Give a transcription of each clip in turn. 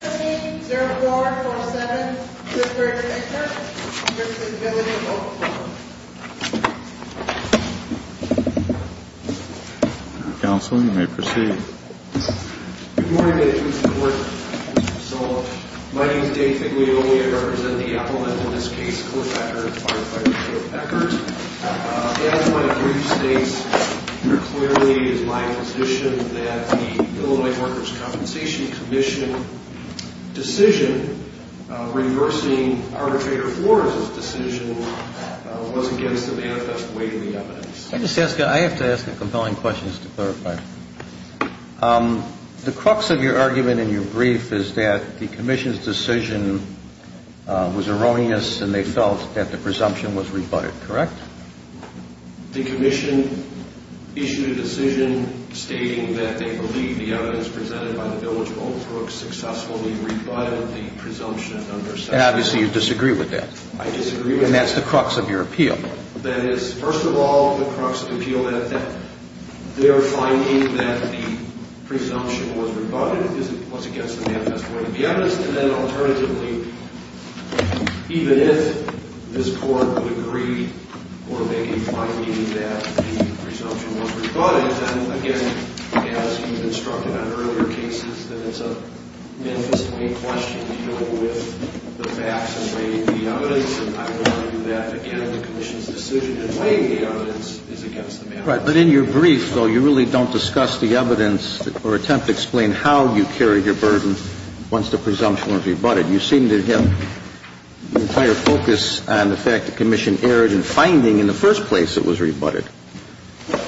Committee, 0-4-4-7. Mr. Ekkert, you have the ability to vote. Good morning, ladies and gentlemen. So, my name is Dave Paglioli. I represent the appellant, in this case, Cliff Eckert, firefighter Cliff Eckert. As my brief states, it clearly is my position that the Illinois Workers' Compensation Commission decision, reversing arbitrator Flores' decision, was against the manifest weight of the evidence. I just ask, I have to ask a compelling question just to clarify. The crux of your argument in your brief is that the commission's decision was erroneous and they felt that the presumption was rebutted, correct? The commission issued a decision stating that they believe the evidence presented by the village of Oldsbrook successfully rebutted the presumption under section... And obviously you disagree with that. I disagree with that. And that's the crux of your appeal. That is, first of all, the crux of the appeal is that they're finding that the presumption was rebutted. It was against the manifest weight of the evidence. And then, alternatively, even if this Court would agree or maybe find that the presumption was rebutted, then, again, as you've instructed on earlier cases, that it's a manifest weight question, you know, with the facts and weight of the evidence. And I would argue that, again, the commission's decision in weighing the evidence is against the manifest weight. But in your brief, though, you really don't discuss the evidence or attempt to explain how you carried your burden once the presumption was rebutted. You seem to have an entire focus on the fact the commission erred in finding in the first place it was rebutted.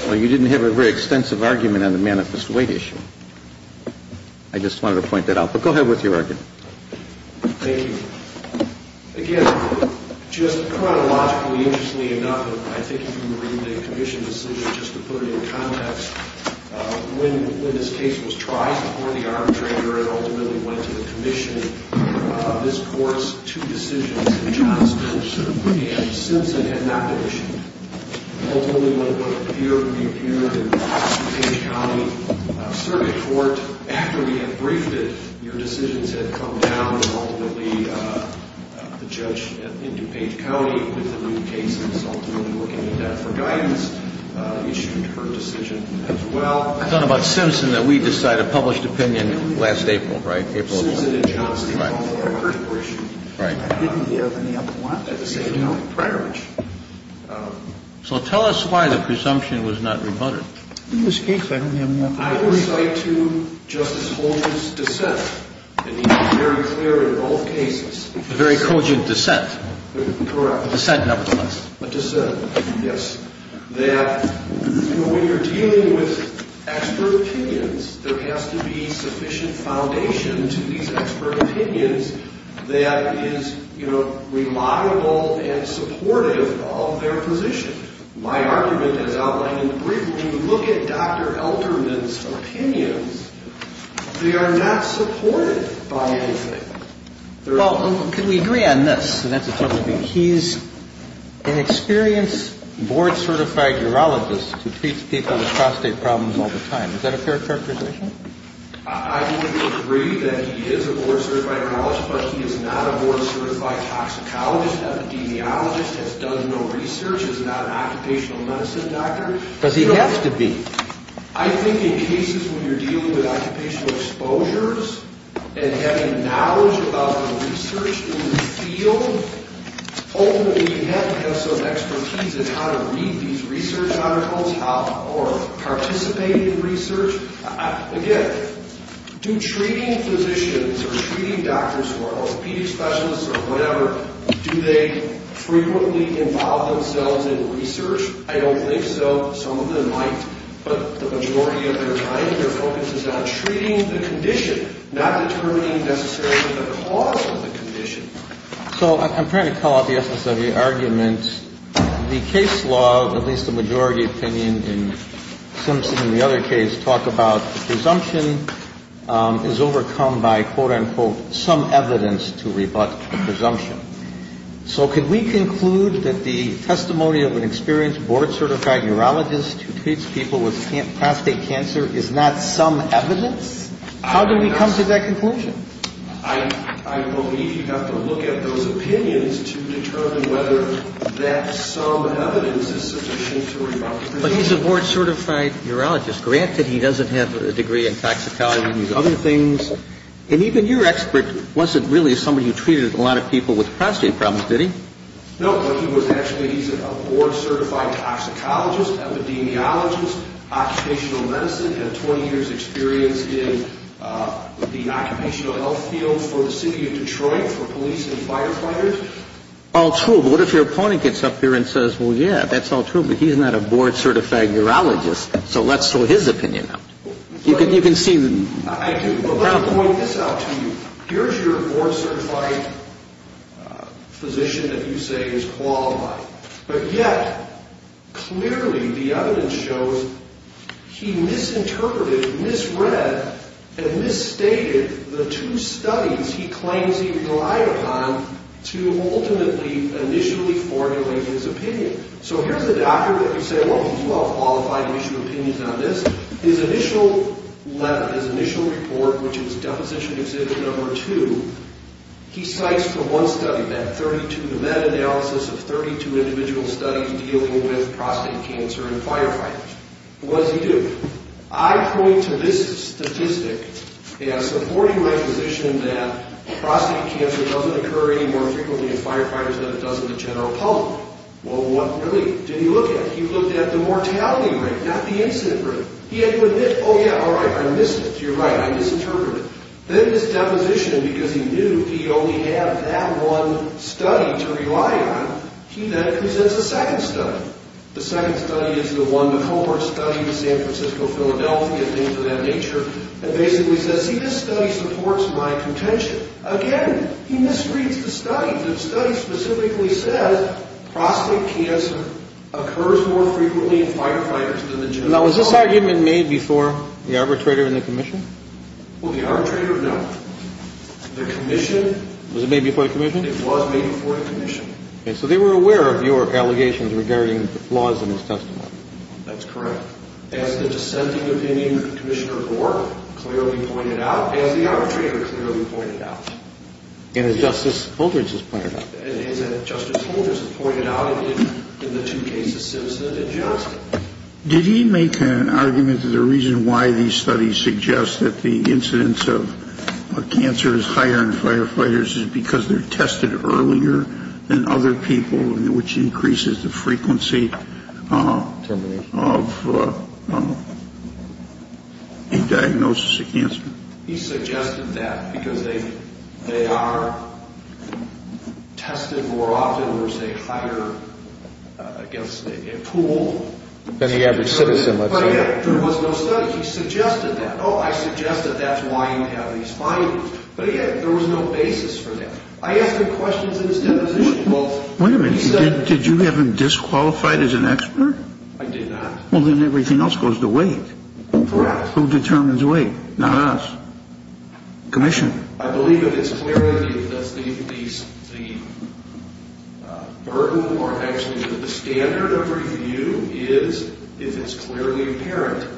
You didn't have a very extensive argument on the manifest weight issue. I just wanted to point that out. But go ahead with your argument. Thank you. Again, just chronologically, interestingly enough, I think if you read the commission's decision, just to put it in context, when this case was tried before the arbitrator and ultimately went to the commission, this Court's two decisions, Johnston and Simpson, had not been issued. Ultimately, what appeared, reappeared in DuPage County Circuit Court. After we had briefed it, your decisions had come down, and ultimately the judge in DuPage County with the new case was ultimately looking into that for guidance, issued her decision as well. I thought about Simpson, that we decided, published opinion last April, right? I thought about Simpson and Johnston. I didn't have any other one at the same time. So tell us why the presumption was not rebutted. I will cite to Justice Holdren's dissent, and he was very clear in both cases. A very cogent dissent. Correct. A dissent nevertheless. A dissent, yes. When you're dealing with expert opinions, there has to be sufficient foundation to these expert opinions that is, you know, reliable and supportive of their position. My argument is outlined in the brief. When you look at Dr. Alterman's opinions, they are not supported by anything. Well, can we agree on this? He's an experienced board-certified urologist who treats people with prostate problems all the time. Is that a fair characterization? I would agree that he is a board-certified urologist, but he is not a board-certified toxicologist, epidemiologist, has done no research, is not an occupational medicine doctor. Does he have to be? I think in cases when you're dealing with occupational exposures and having knowledge about the research in the field, ultimately you have to have some expertise in how to read these research articles or participate in research. Again, do treating physicians or treating doctors or orthopedic specialists or whatever, do they frequently involve themselves in research? I don't think so. Some of them might, but the majority of their time, their focus is on treating the condition, not determining necessarily the cause of the condition. So I'm trying to call out the SSWA argument. The case law, at least the majority opinion in Simpson and the other case, talk about the presumption is overcome by, quote-unquote, some evidence to rebut the presumption. So could we conclude that the testimony of an experienced board-certified urologist who treats people with prostate cancer is not some evidence? How do we come to that conclusion? I believe you have to look at those opinions to determine whether that some evidence is sufficient to rebut the presumption. But he's a board-certified urologist. Granted, he doesn't have a degree in toxicology and these other things. And even your expert wasn't really somebody who treated a lot of people with prostate problems, did he? No, but he was actually a board-certified toxicologist, epidemiologist, occupational medicine, had 20 years' experience in the occupational health field for the city of Detroit for police and firefighters. All true. But what if your opponent gets up here and says, well, yeah, that's all true, but he's not a board-certified urologist. So let's throw his opinion out. I do, but let me point this out to you. Here's your board-certified physician that you say is qualified. But yet, clearly the evidence shows he misinterpreted, misread, and misstated the two studies he claims he relied upon to ultimately initially formulate his opinion. So here's the doctor that you say, well, he's well-qualified to issue opinions on this. His initial letter, his initial report, which is Deposition Exhibit No. 2, he cites from one study, that 32, the meta-analysis of 32 individual studies dealing with prostate cancer in firefighters. What does he do? I point to this statistic as supporting my position that prostate cancer doesn't occur any more frequently in firefighters than it does in the general public. Well, what really did he look at? He looked at the mortality rate, not the incident rate. He had to admit, oh, yeah, all right, I missed it. You're right, I misinterpreted it. Then this deposition, because he knew he only had that one study to rely on, he then presents a second study. The second study is the one that Homer studied in San Francisco, Philadelphia, things of that nature, and basically says, see, this study supports my contention. Again, he misreads the study. The study specifically says prostate cancer occurs more frequently in firefighters than the general public. Now, was this argument made before the arbitrator and the commission? Well, the arbitrator, no. The commission. Was it made before the commission? It was made before the commission. And so they were aware of your allegations regarding flaws in his testimony. That's correct. As the dissenting opinion of Commissioner Gore clearly pointed out, as the arbitrator clearly pointed out. And as Justice Holdrens has pointed out. And as Justice Holdrens has pointed out in the two cases, Simpson and Johnson. Did he make an argument that the reason why these studies suggest that the incidence of cancer is higher in firefighters is because they're tested earlier than other people, which increases the frequency of a diagnosis of cancer? He suggested that because they are tested more often. There's a higher, I guess, pool. Than the average citizen, let's say. But yet there was no study. He suggested that. Oh, I suggested that's why you have these findings. But yet there was no basis for that. I asked him questions in his deposition. Well, he said. Wait a minute. Did you have him disqualified as an expert? I did not. Well, then everything else goes to weight. Correct. Who determines weight? Not us. Commission. I believe that it's clearly the burden or actually the standard of review is, if it's clearly apparent,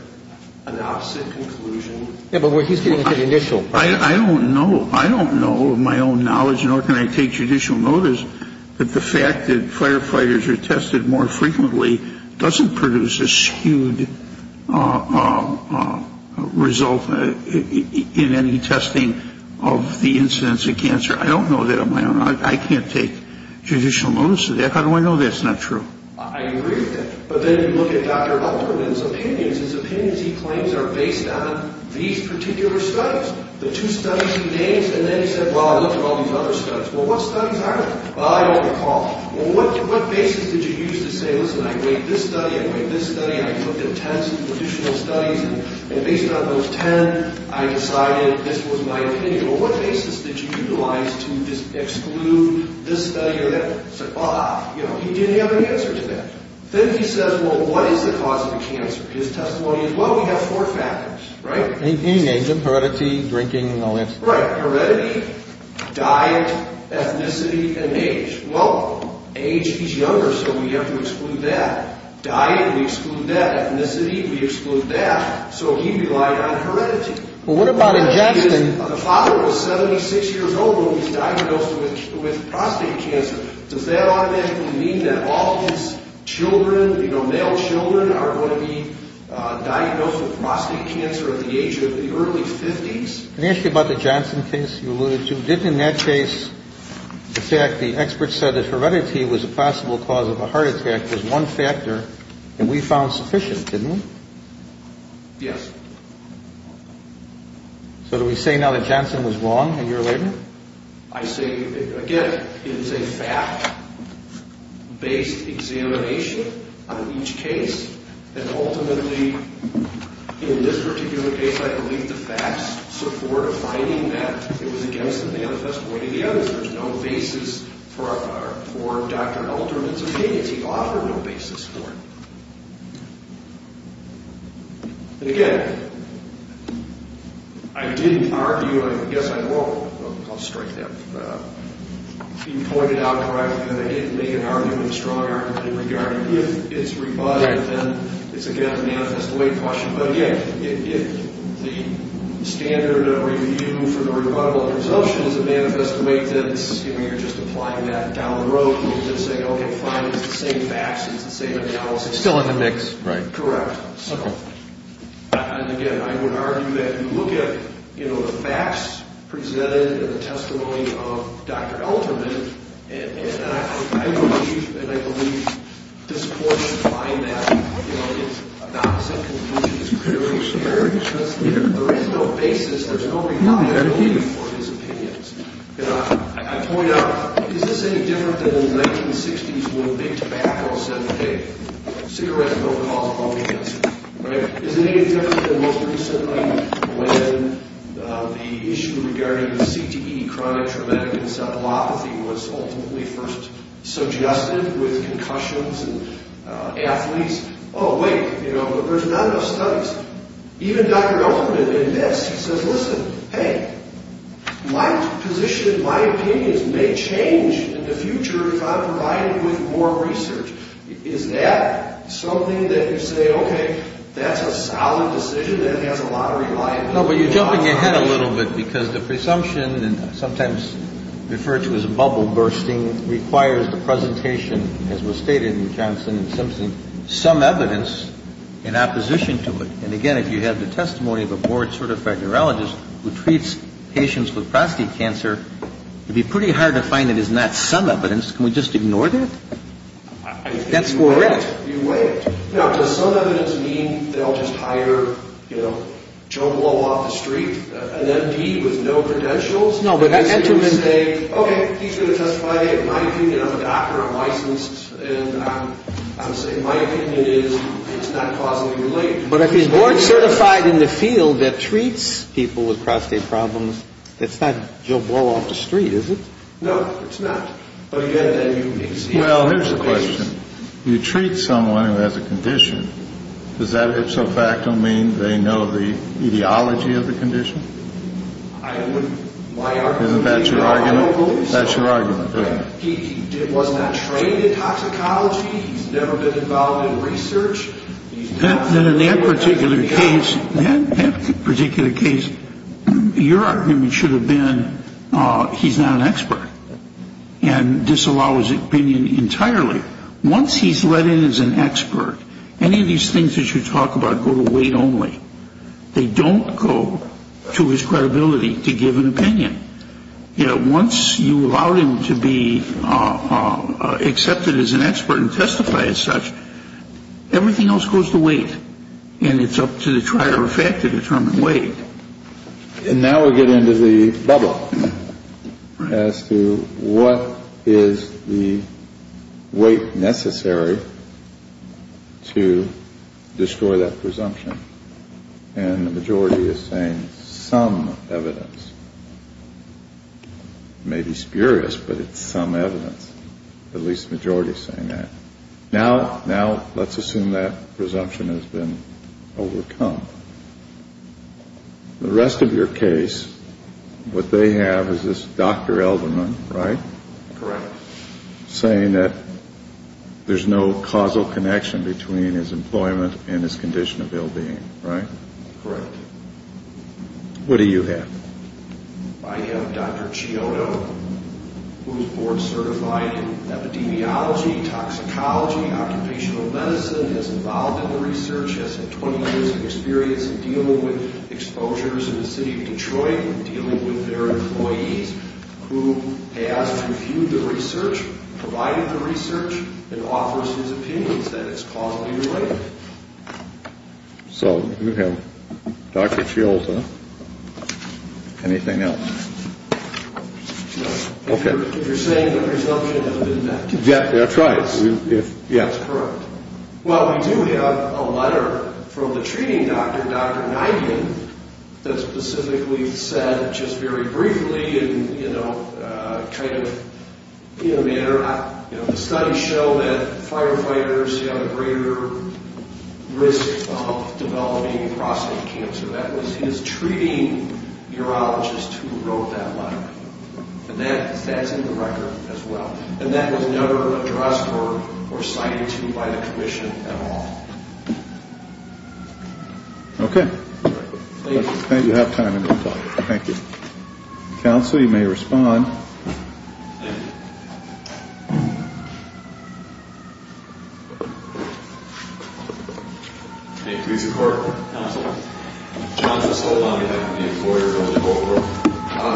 an opposite conclusion. I don't know. I don't know, to my own knowledge, nor can I take judicial notice, that the fact that firefighters are tested more frequently doesn't produce a skewed result in any testing of the incidence of cancer. I don't know that on my own. I can't take judicial notice of that. How do I know that's not true? I agree with that. But then you look at Dr. Alterman's opinions. His opinions, he claims, are based on these particular studies, the two studies he names. And then he said, well, I looked at all these other studies. Well, what studies are they? Well, I don't recall. Well, what basis did you use to say, listen, I weighed this study, I weighed this study, I looked at tens of additional studies, and based on those ten, I decided this was my opinion. Well, what basis did you utilize to exclude this study or that? I said, well, he didn't have an answer to that. Then he says, well, what is the cause of the cancer? His testimony is, well, we have four factors, right? He names them, heredity, drinking, all that stuff. Right, heredity, diet, ethnicity, and age. Well, age, he's younger, so we have to exclude that. Diet, we exclude that. Ethnicity, we exclude that. So he relied on heredity. Well, what about ingestion? Heredity is, the father was 76 years old when he was diagnosed with prostate cancer. Does that automatically mean that all his children, you know, male children, are going to be diagnosed with prostate cancer at the age of the early 50s? Can I ask you about the Johnson case you alluded to? Didn't in that case, in fact, the experts said that heredity was a possible cause of a heart attack. There's one factor, and we found sufficient, didn't we? Yes. So do we say now that Johnson was wrong a year later? I say, again, it is a fact-based examination on each case. And ultimately, in this particular case, I believe the facts support a finding that it was against the manifest way of the evidence. There's no basis for Dr. Alterman's opinions. He offered no basis for it. And, again, I didn't argue. I guess I will. I'll strike that being pointed out correctly that I didn't make an argument, a strong argument, in regard to if it's rebutted, then it's, again, a manifest way question. But, yeah, if the standard of review for the rebuttal of presumption is a manifest way, then you're just applying that down the road. You're just saying, okay, fine, it's the same facts. It's the same analysis. It's still in the mix. Right. Correct. So, and, again, I would argue that you look at the facts presented and the testimony of Dr. Alterman, and I believe, and I believe this point is fine. You know, it's a non-sympathetic experience. There is no basis. There's no rebuttal for his opinions. And I point out, is this any different than in the 1960s when big tobacco said, hey, cigarettes don't cause colon cancer, right? Is it any different than most recently when the issue regarding the CTE, chronic traumatic encephalopathy, was ultimately first suggested with concussions and athletes? Oh, wait, you know, there's not enough studies. Even Dr. Alterman admits, he says, listen, hey, my position, my opinions may change in the future if I'm provided with more research. Is that something that you say, okay, that's a solid decision that has a lot of reliability? No, but you're jumping ahead a little bit because the presumption, and sometimes referred to as bubble bursting, requires the presentation, as was stated in Johnson and Simpson, some evidence in opposition to it. And, again, if you have the testimony of a board-certified urologist who treats patients with prostate cancer, it would be pretty hard to find it is not some evidence. Can we just ignore that? That's correct. You weigh it. Now, does some evidence mean they'll just hire, you know, Joe Blow off the street, an MP with no credentials? Okay, he's going to testify. In my opinion, I'm a doctor. I'm licensed. And I would say my opinion is it's not causally related. But if he's board-certified in the field that treats people with prostate problems, it's not Joe Blow off the street, is it? No, it's not. But, again, then you can see how that plays. Well, here's the question. You treat someone who has a condition. Does that ipso facto mean they know the etiology of the condition? Isn't that your argument? That's your argument. He was not trained in toxicology. He's never been involved in research. Then in that particular case, your argument should have been he's not an expert and disallow his opinion entirely. Once he's let in as an expert, any of these things that you talk about go to weight only. They don't go to his credibility to give an opinion. Once you allow him to be accepted as an expert and testify as such, everything else goes to weight. And it's up to the trier of fact to determine weight. And now we get into the bubble as to what is the weight necessary to destroy that presumption. And the majority is saying some evidence. It may be spurious, but it's some evidence. At least the majority is saying that. Now let's assume that presumption has been overcome. The rest of your case, what they have is this Dr. Elderman, right? Correct. Saying that there's no causal connection between his employment and his condition of ill-being, right? Correct. What do you have? I have Dr. Chiodo, who is board certified in epidemiology, toxicology, occupational medicine, is involved in the research, has 20 years of experience in dealing with exposures in the city of Detroit, dealing with their employees, who has reviewed the research, provided the research, and offers his opinions that it's causally related. So you have Dr. Chiodo. Anything else? No. Okay. If you're saying that presumption has been met. That's right. That's correct. Well, we do have a letter from the treating doctor, Dr. Knighton, that specifically said just very briefly, you know, kind of in a manner, you know, the studies show that firefighters have a greater risk of developing prostate cancer. That was his treating urologist who wrote that letter. And that's in the record as well. And that was never addressed or cited to me by the commission at all. Okay. Thank you. I think you have time to talk. Thank you. Counsel, you may respond. Thank you. Okay. Please report. Counsel. John, just hold on a minute. I'm the employer.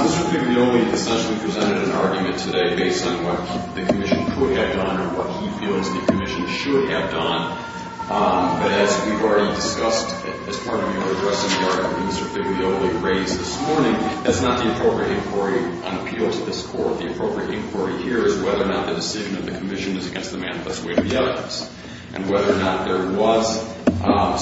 Mr. Figlioli essentially presented an argument today based on what the commission could have done or what he feels the commission should have done. But as we've already discussed, as part of your addressing part of what Mr. Figlioli raised this morning, that's not the appropriate inquiry on appeal to this Court. The appropriate inquiry here is whether or not the decision of the commission is against the manifest way of the evidence and whether or not there was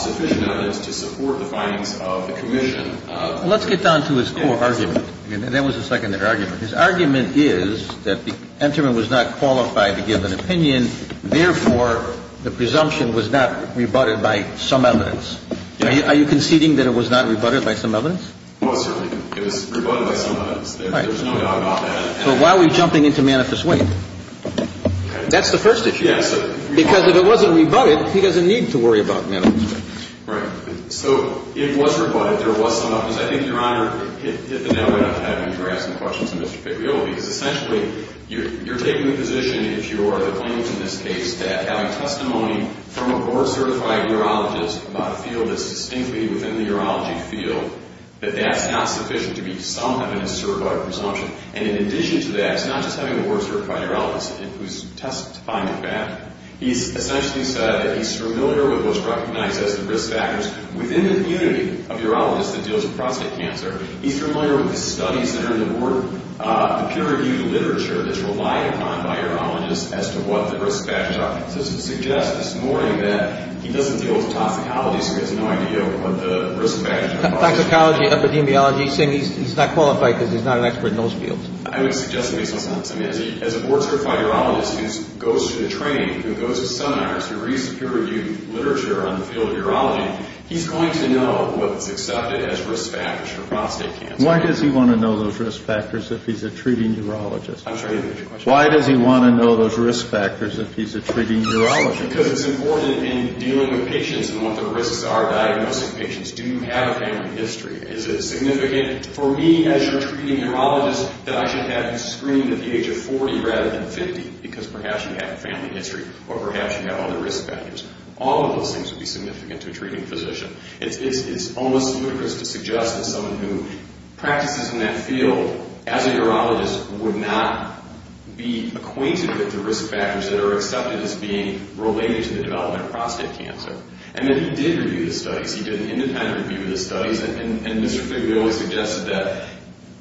sufficient evidence to support the findings of the commission. Let's get down to his core argument. There was a second argument. His argument is that the entrant was not qualified to give an opinion. Therefore, the presumption was not rebutted by some evidence. Are you conceding that it was not rebutted by some evidence? It was certainly. It was rebutted by some evidence. There was no doubt about that. So why are we jumping into manifest way? That's the first issue. Yes. Because if it wasn't rebutted, he doesn't need to worry about manifest way. Right. So it was rebutted. There was some evidence. I think, Your Honor, it hit the nail right on the head when you were asking questions to Mr. Figlioli. Because essentially, you're taking the position, if you are the plaintiff in this case, that having testimony from a board-certified urologist about a field that's distinctly within the urology field, that that's not sufficient to be some evidence to rebut a presumption. And in addition to that, it's not just having a board-certified urologist who's testifying the fact. He's essentially said that he's familiar with what's recognized as the risk factors within the community of urologists that deals with prostate cancer. He's familiar with the studies that are in the board, the peer-reviewed literature that's relied upon by urologists as to what the risk factors are. So to suggest this morning that he doesn't deal with toxicology, so he has no idea what the risk factors are. Toxicology, epidemiology, he's saying he's not qualified because he's not an expert in those fields. I would suggest it makes no sense. I mean, as a board-certified urologist who goes to the training, who goes to seminars, who reads the peer-reviewed literature on the field of urology, he's going to know what's accepted as risk factors for prostate cancer. Why does he want to know those risk factors if he's a treating urologist? I'm sorry. Why does he want to know those risk factors if he's a treating urologist? Because it's important in dealing with patients and what the risks are diagnosing patients. Do you have a family history? Is it significant for me as your treating urologist that I should have you screened at the age of 40 rather than 50? Because perhaps you have a family history or perhaps you have other risk factors. All of those things would be significant to a treating physician. It's almost ludicrous to suggest that someone who practices in that field as a urologist would not be acquainted with the risk factors that are accepted as being related to the development of prostate cancer. And then he did review the studies. He did an independent review of the studies. And Mr. Figueroa suggested that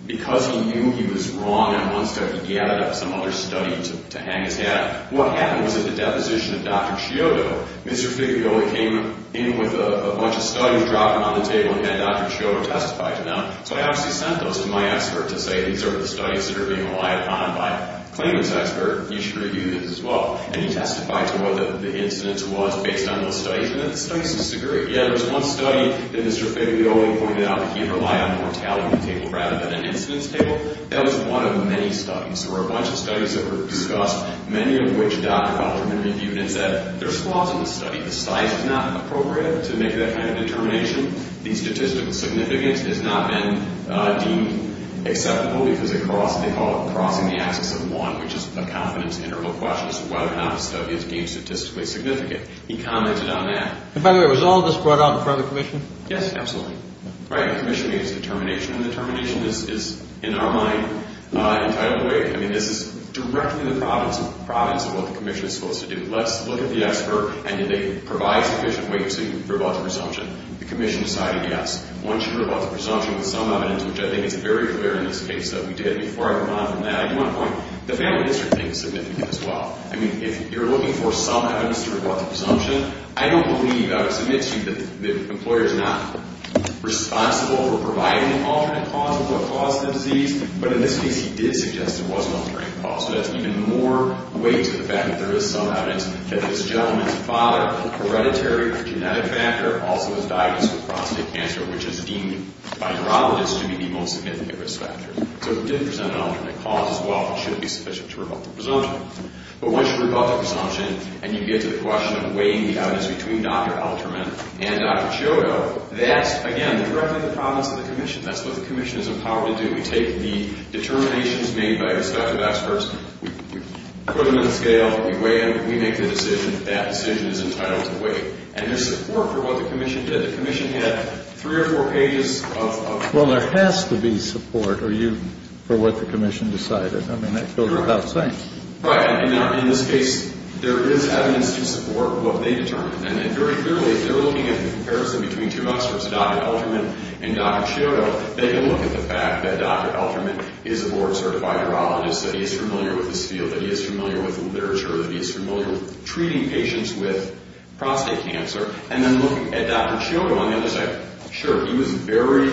because he knew he was wrong in one study, he added up some other studies to hang his hat on. What happened was at the deposition of Dr. Scioto, Mr. Figueroa came in with a bunch of studies, dropped them on the table, and had Dr. Scioto testify to them. So I obviously sent those to my expert to say, these are the studies that are being relied upon by a claimant's expert. You should review these as well. And he testified to what the incidence was based on those studies. And the studies disagree. Yeah, there was one study that Mr. Figueroa pointed out that he relied on mortality table rather than an incidence table. That was one of many studies. There were a bunch of studies that were discussed, many of which Dr. Alterman reviewed and said, there's flaws in the study. The size is not appropriate to make that kind of determination. The statistical significance has not been deemed acceptable because they call it crossing the axis of one, which is a confidence interval question as to whether or not a study is deemed statistically significant. He commented on that. And by the way, was all of this brought out in front of the commission? Yes, absolutely. Right, the commission made its determination. And the determination is, in our mind, entitled to wait. I mean, this is directly the province of what the commission is supposed to do. Let's look at the expert, and did they provide sufficient weight so you can rebut the presumption? The commission decided yes. One should rebut the presumption with some evidence, which I think is very clear in this case that we did. Before I go on from that, I do want to point out, the family history thing is significant as well. I mean, if you're looking for some evidence to rebut the presumption, I don't believe, I would submit to you that the employer is not responsible for providing an alternate cause of what caused the disease, but in this case he did suggest there was an alternate cause. So that's even more weight to the fact that there is some evidence that this gentleman's father, hereditary genetic factor, also was diagnosed with prostate cancer, which is deemed by neurologists to be the most significant risk factor. So it did present an alternate cause as well, but shouldn't be sufficient to rebut the presumption. But once you rebut the presumption and you get to the question of weighing the evidence between Dr. Alterman and Dr. Ciotto, that's, again, directly the province of the commission. That's what the commission is empowered to do. We take the determinations made by respective experts. We put them in the scale. We weigh them. We make the decision. That decision is entitled to weight. And there's support for what the commission did. The commission had three or four pages of... for what the commission decided. I mean, that goes without saying. Right. In this case, there is evidence to support what they determined. And very clearly, if you're looking at the comparison between two experts, Dr. Alterman and Dr. Ciotto, they can look at the fact that Dr. Alterman is a board-certified neurologist, that he is familiar with this field, that he is familiar with the literature, that he is familiar with treating patients with prostate cancer, and then look at Dr. Ciotto on the other side. Sure, he was very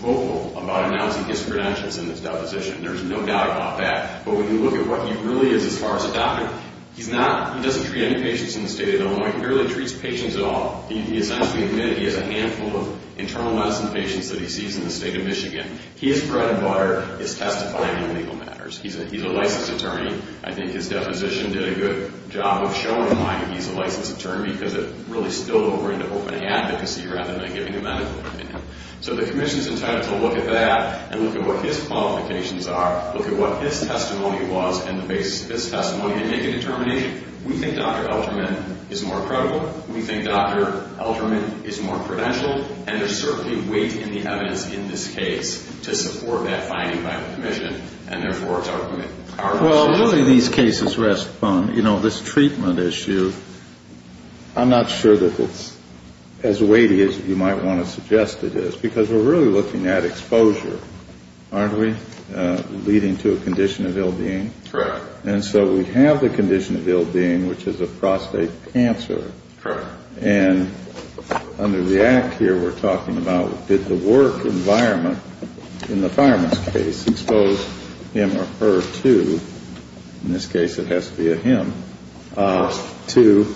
vocal about announcing his credentials in this deposition. There's no doubt about that. But when you look at what he really is as far as a doctor, he doesn't treat any patients in the state of Illinois. He barely treats patients at all. He essentially admitted he has a handful of internal medicine patients that he sees in the state of Michigan. He is bread and butter. He's testifying on legal matters. He's a licensed attorney. I think his deposition did a good job of showing why he's a licensed attorney, because it really spilled over into open advocacy rather than giving a medical opinion. So the commission is entitled to look at that and look at what his qualifications are, look at what his testimony was and base his testimony to make a determination. We think Dr. Alterman is more credible. We think Dr. Alterman is more credentialed. And there's certainly weight in the evidence in this case to support that finding by the commission, and therefore it's our mission. Well, really these cases rest upon, you know, this treatment issue. I'm not sure that it's as weighty as you might want to suggest it is, because we're really looking at exposure, aren't we, leading to a condition of ill-being. Correct. And so we have the condition of ill-being, which is a prostate cancer. Correct. And under the act here we're talking about did the work environment, in the fireman's case, expose him or her to, in this case it has to be a him, to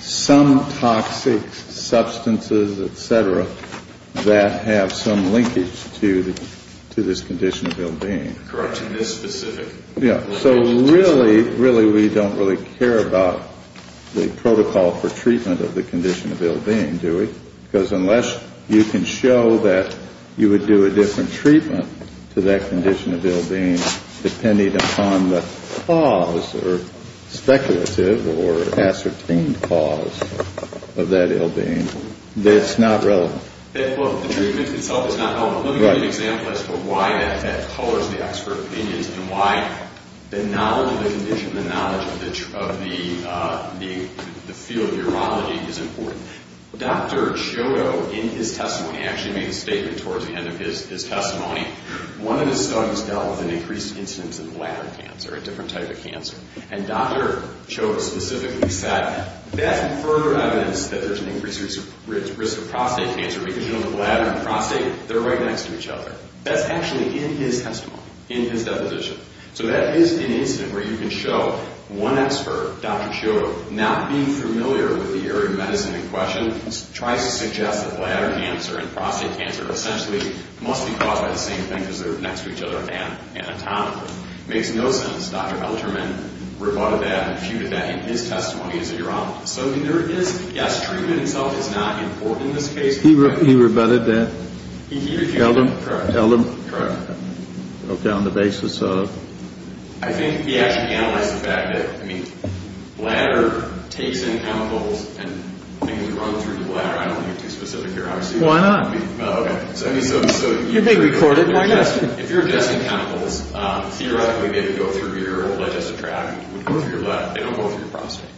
some toxic substances, et cetera, that have some linkage to this condition of ill-being. Correct. To this specific. Yeah. So really, really we don't really care about the protocol for treatment of the condition of ill-being, do we? Because unless you can show that you would do a different treatment to that condition of ill-being, depending upon the cause or speculative or ascertained cause of that ill-being, it's not relevant. Well, the treatment itself is not relevant. Let me give you an example as to why that colors the expert opinions and why the knowledge of the condition, the knowledge of the field of urology is important. Dr. Cioto, in his testimony, actually made a statement towards the end of his testimony. One of his studies dealt with an increased incidence of bladder cancer, a different type of cancer. And Dr. Cioto specifically said that's further evidence that there's an increased risk of prostate cancer because you know the bladder and the prostate, they're right next to each other. That's actually in his testimony, in his deposition. So that is an incident where you can show one expert, Dr. Cioto, not being familiar with the area of medicine in question, tries to suggest that bladder cancer and prostate cancer essentially must be caused by the same thing because they're next to each other anatomically. It makes no sense. Dr. Helderman rebutted that and refuted that in his testimony as a urologist. So there is, yes, treatment itself is not important in this case. He rebutted that? He refuted it. Helderman? Correct. Okay, on the basis of? I think he actually analyzed the fact that, I mean, bladder takes in chemicals and things run through the bladder. I don't want to get too specific here. Why not? Okay. You're being recorded. If you're ingesting chemicals, theoretically they would go through your urologist's tract. They would go through your bladder. They don't go through your prostate.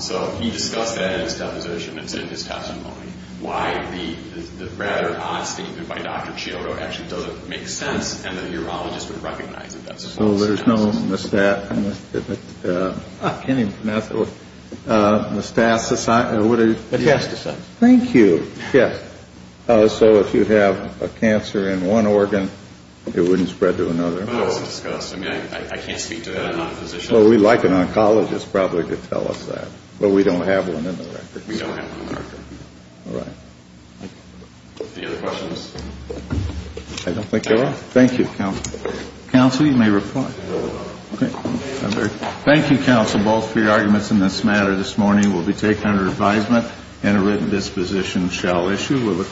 So he discussed that in his deposition. It's in his testimony why the rather odd statement by Dr. Cioto actually doesn't make sense and the urologist would recognize that that's false. So there's no moustache. I can't even pronounce it. Moustache, what is it? Metastasis. Thank you. Yes. So if you have a cancer in one organ, it wouldn't spread to another. Well, it was discussed. I mean, I can't speak to that. I'm not a physician. Well, we'd like an oncologist probably to tell us that. But we don't have one in the record. We don't have one in the record. All right. Any other questions? I don't think there are. Thank you, counsel. Counsel, you may reply. Okay. Thank you, counsel, both for your arguments in this matter. This morning will be taken under advisement and a written disposition shall issue.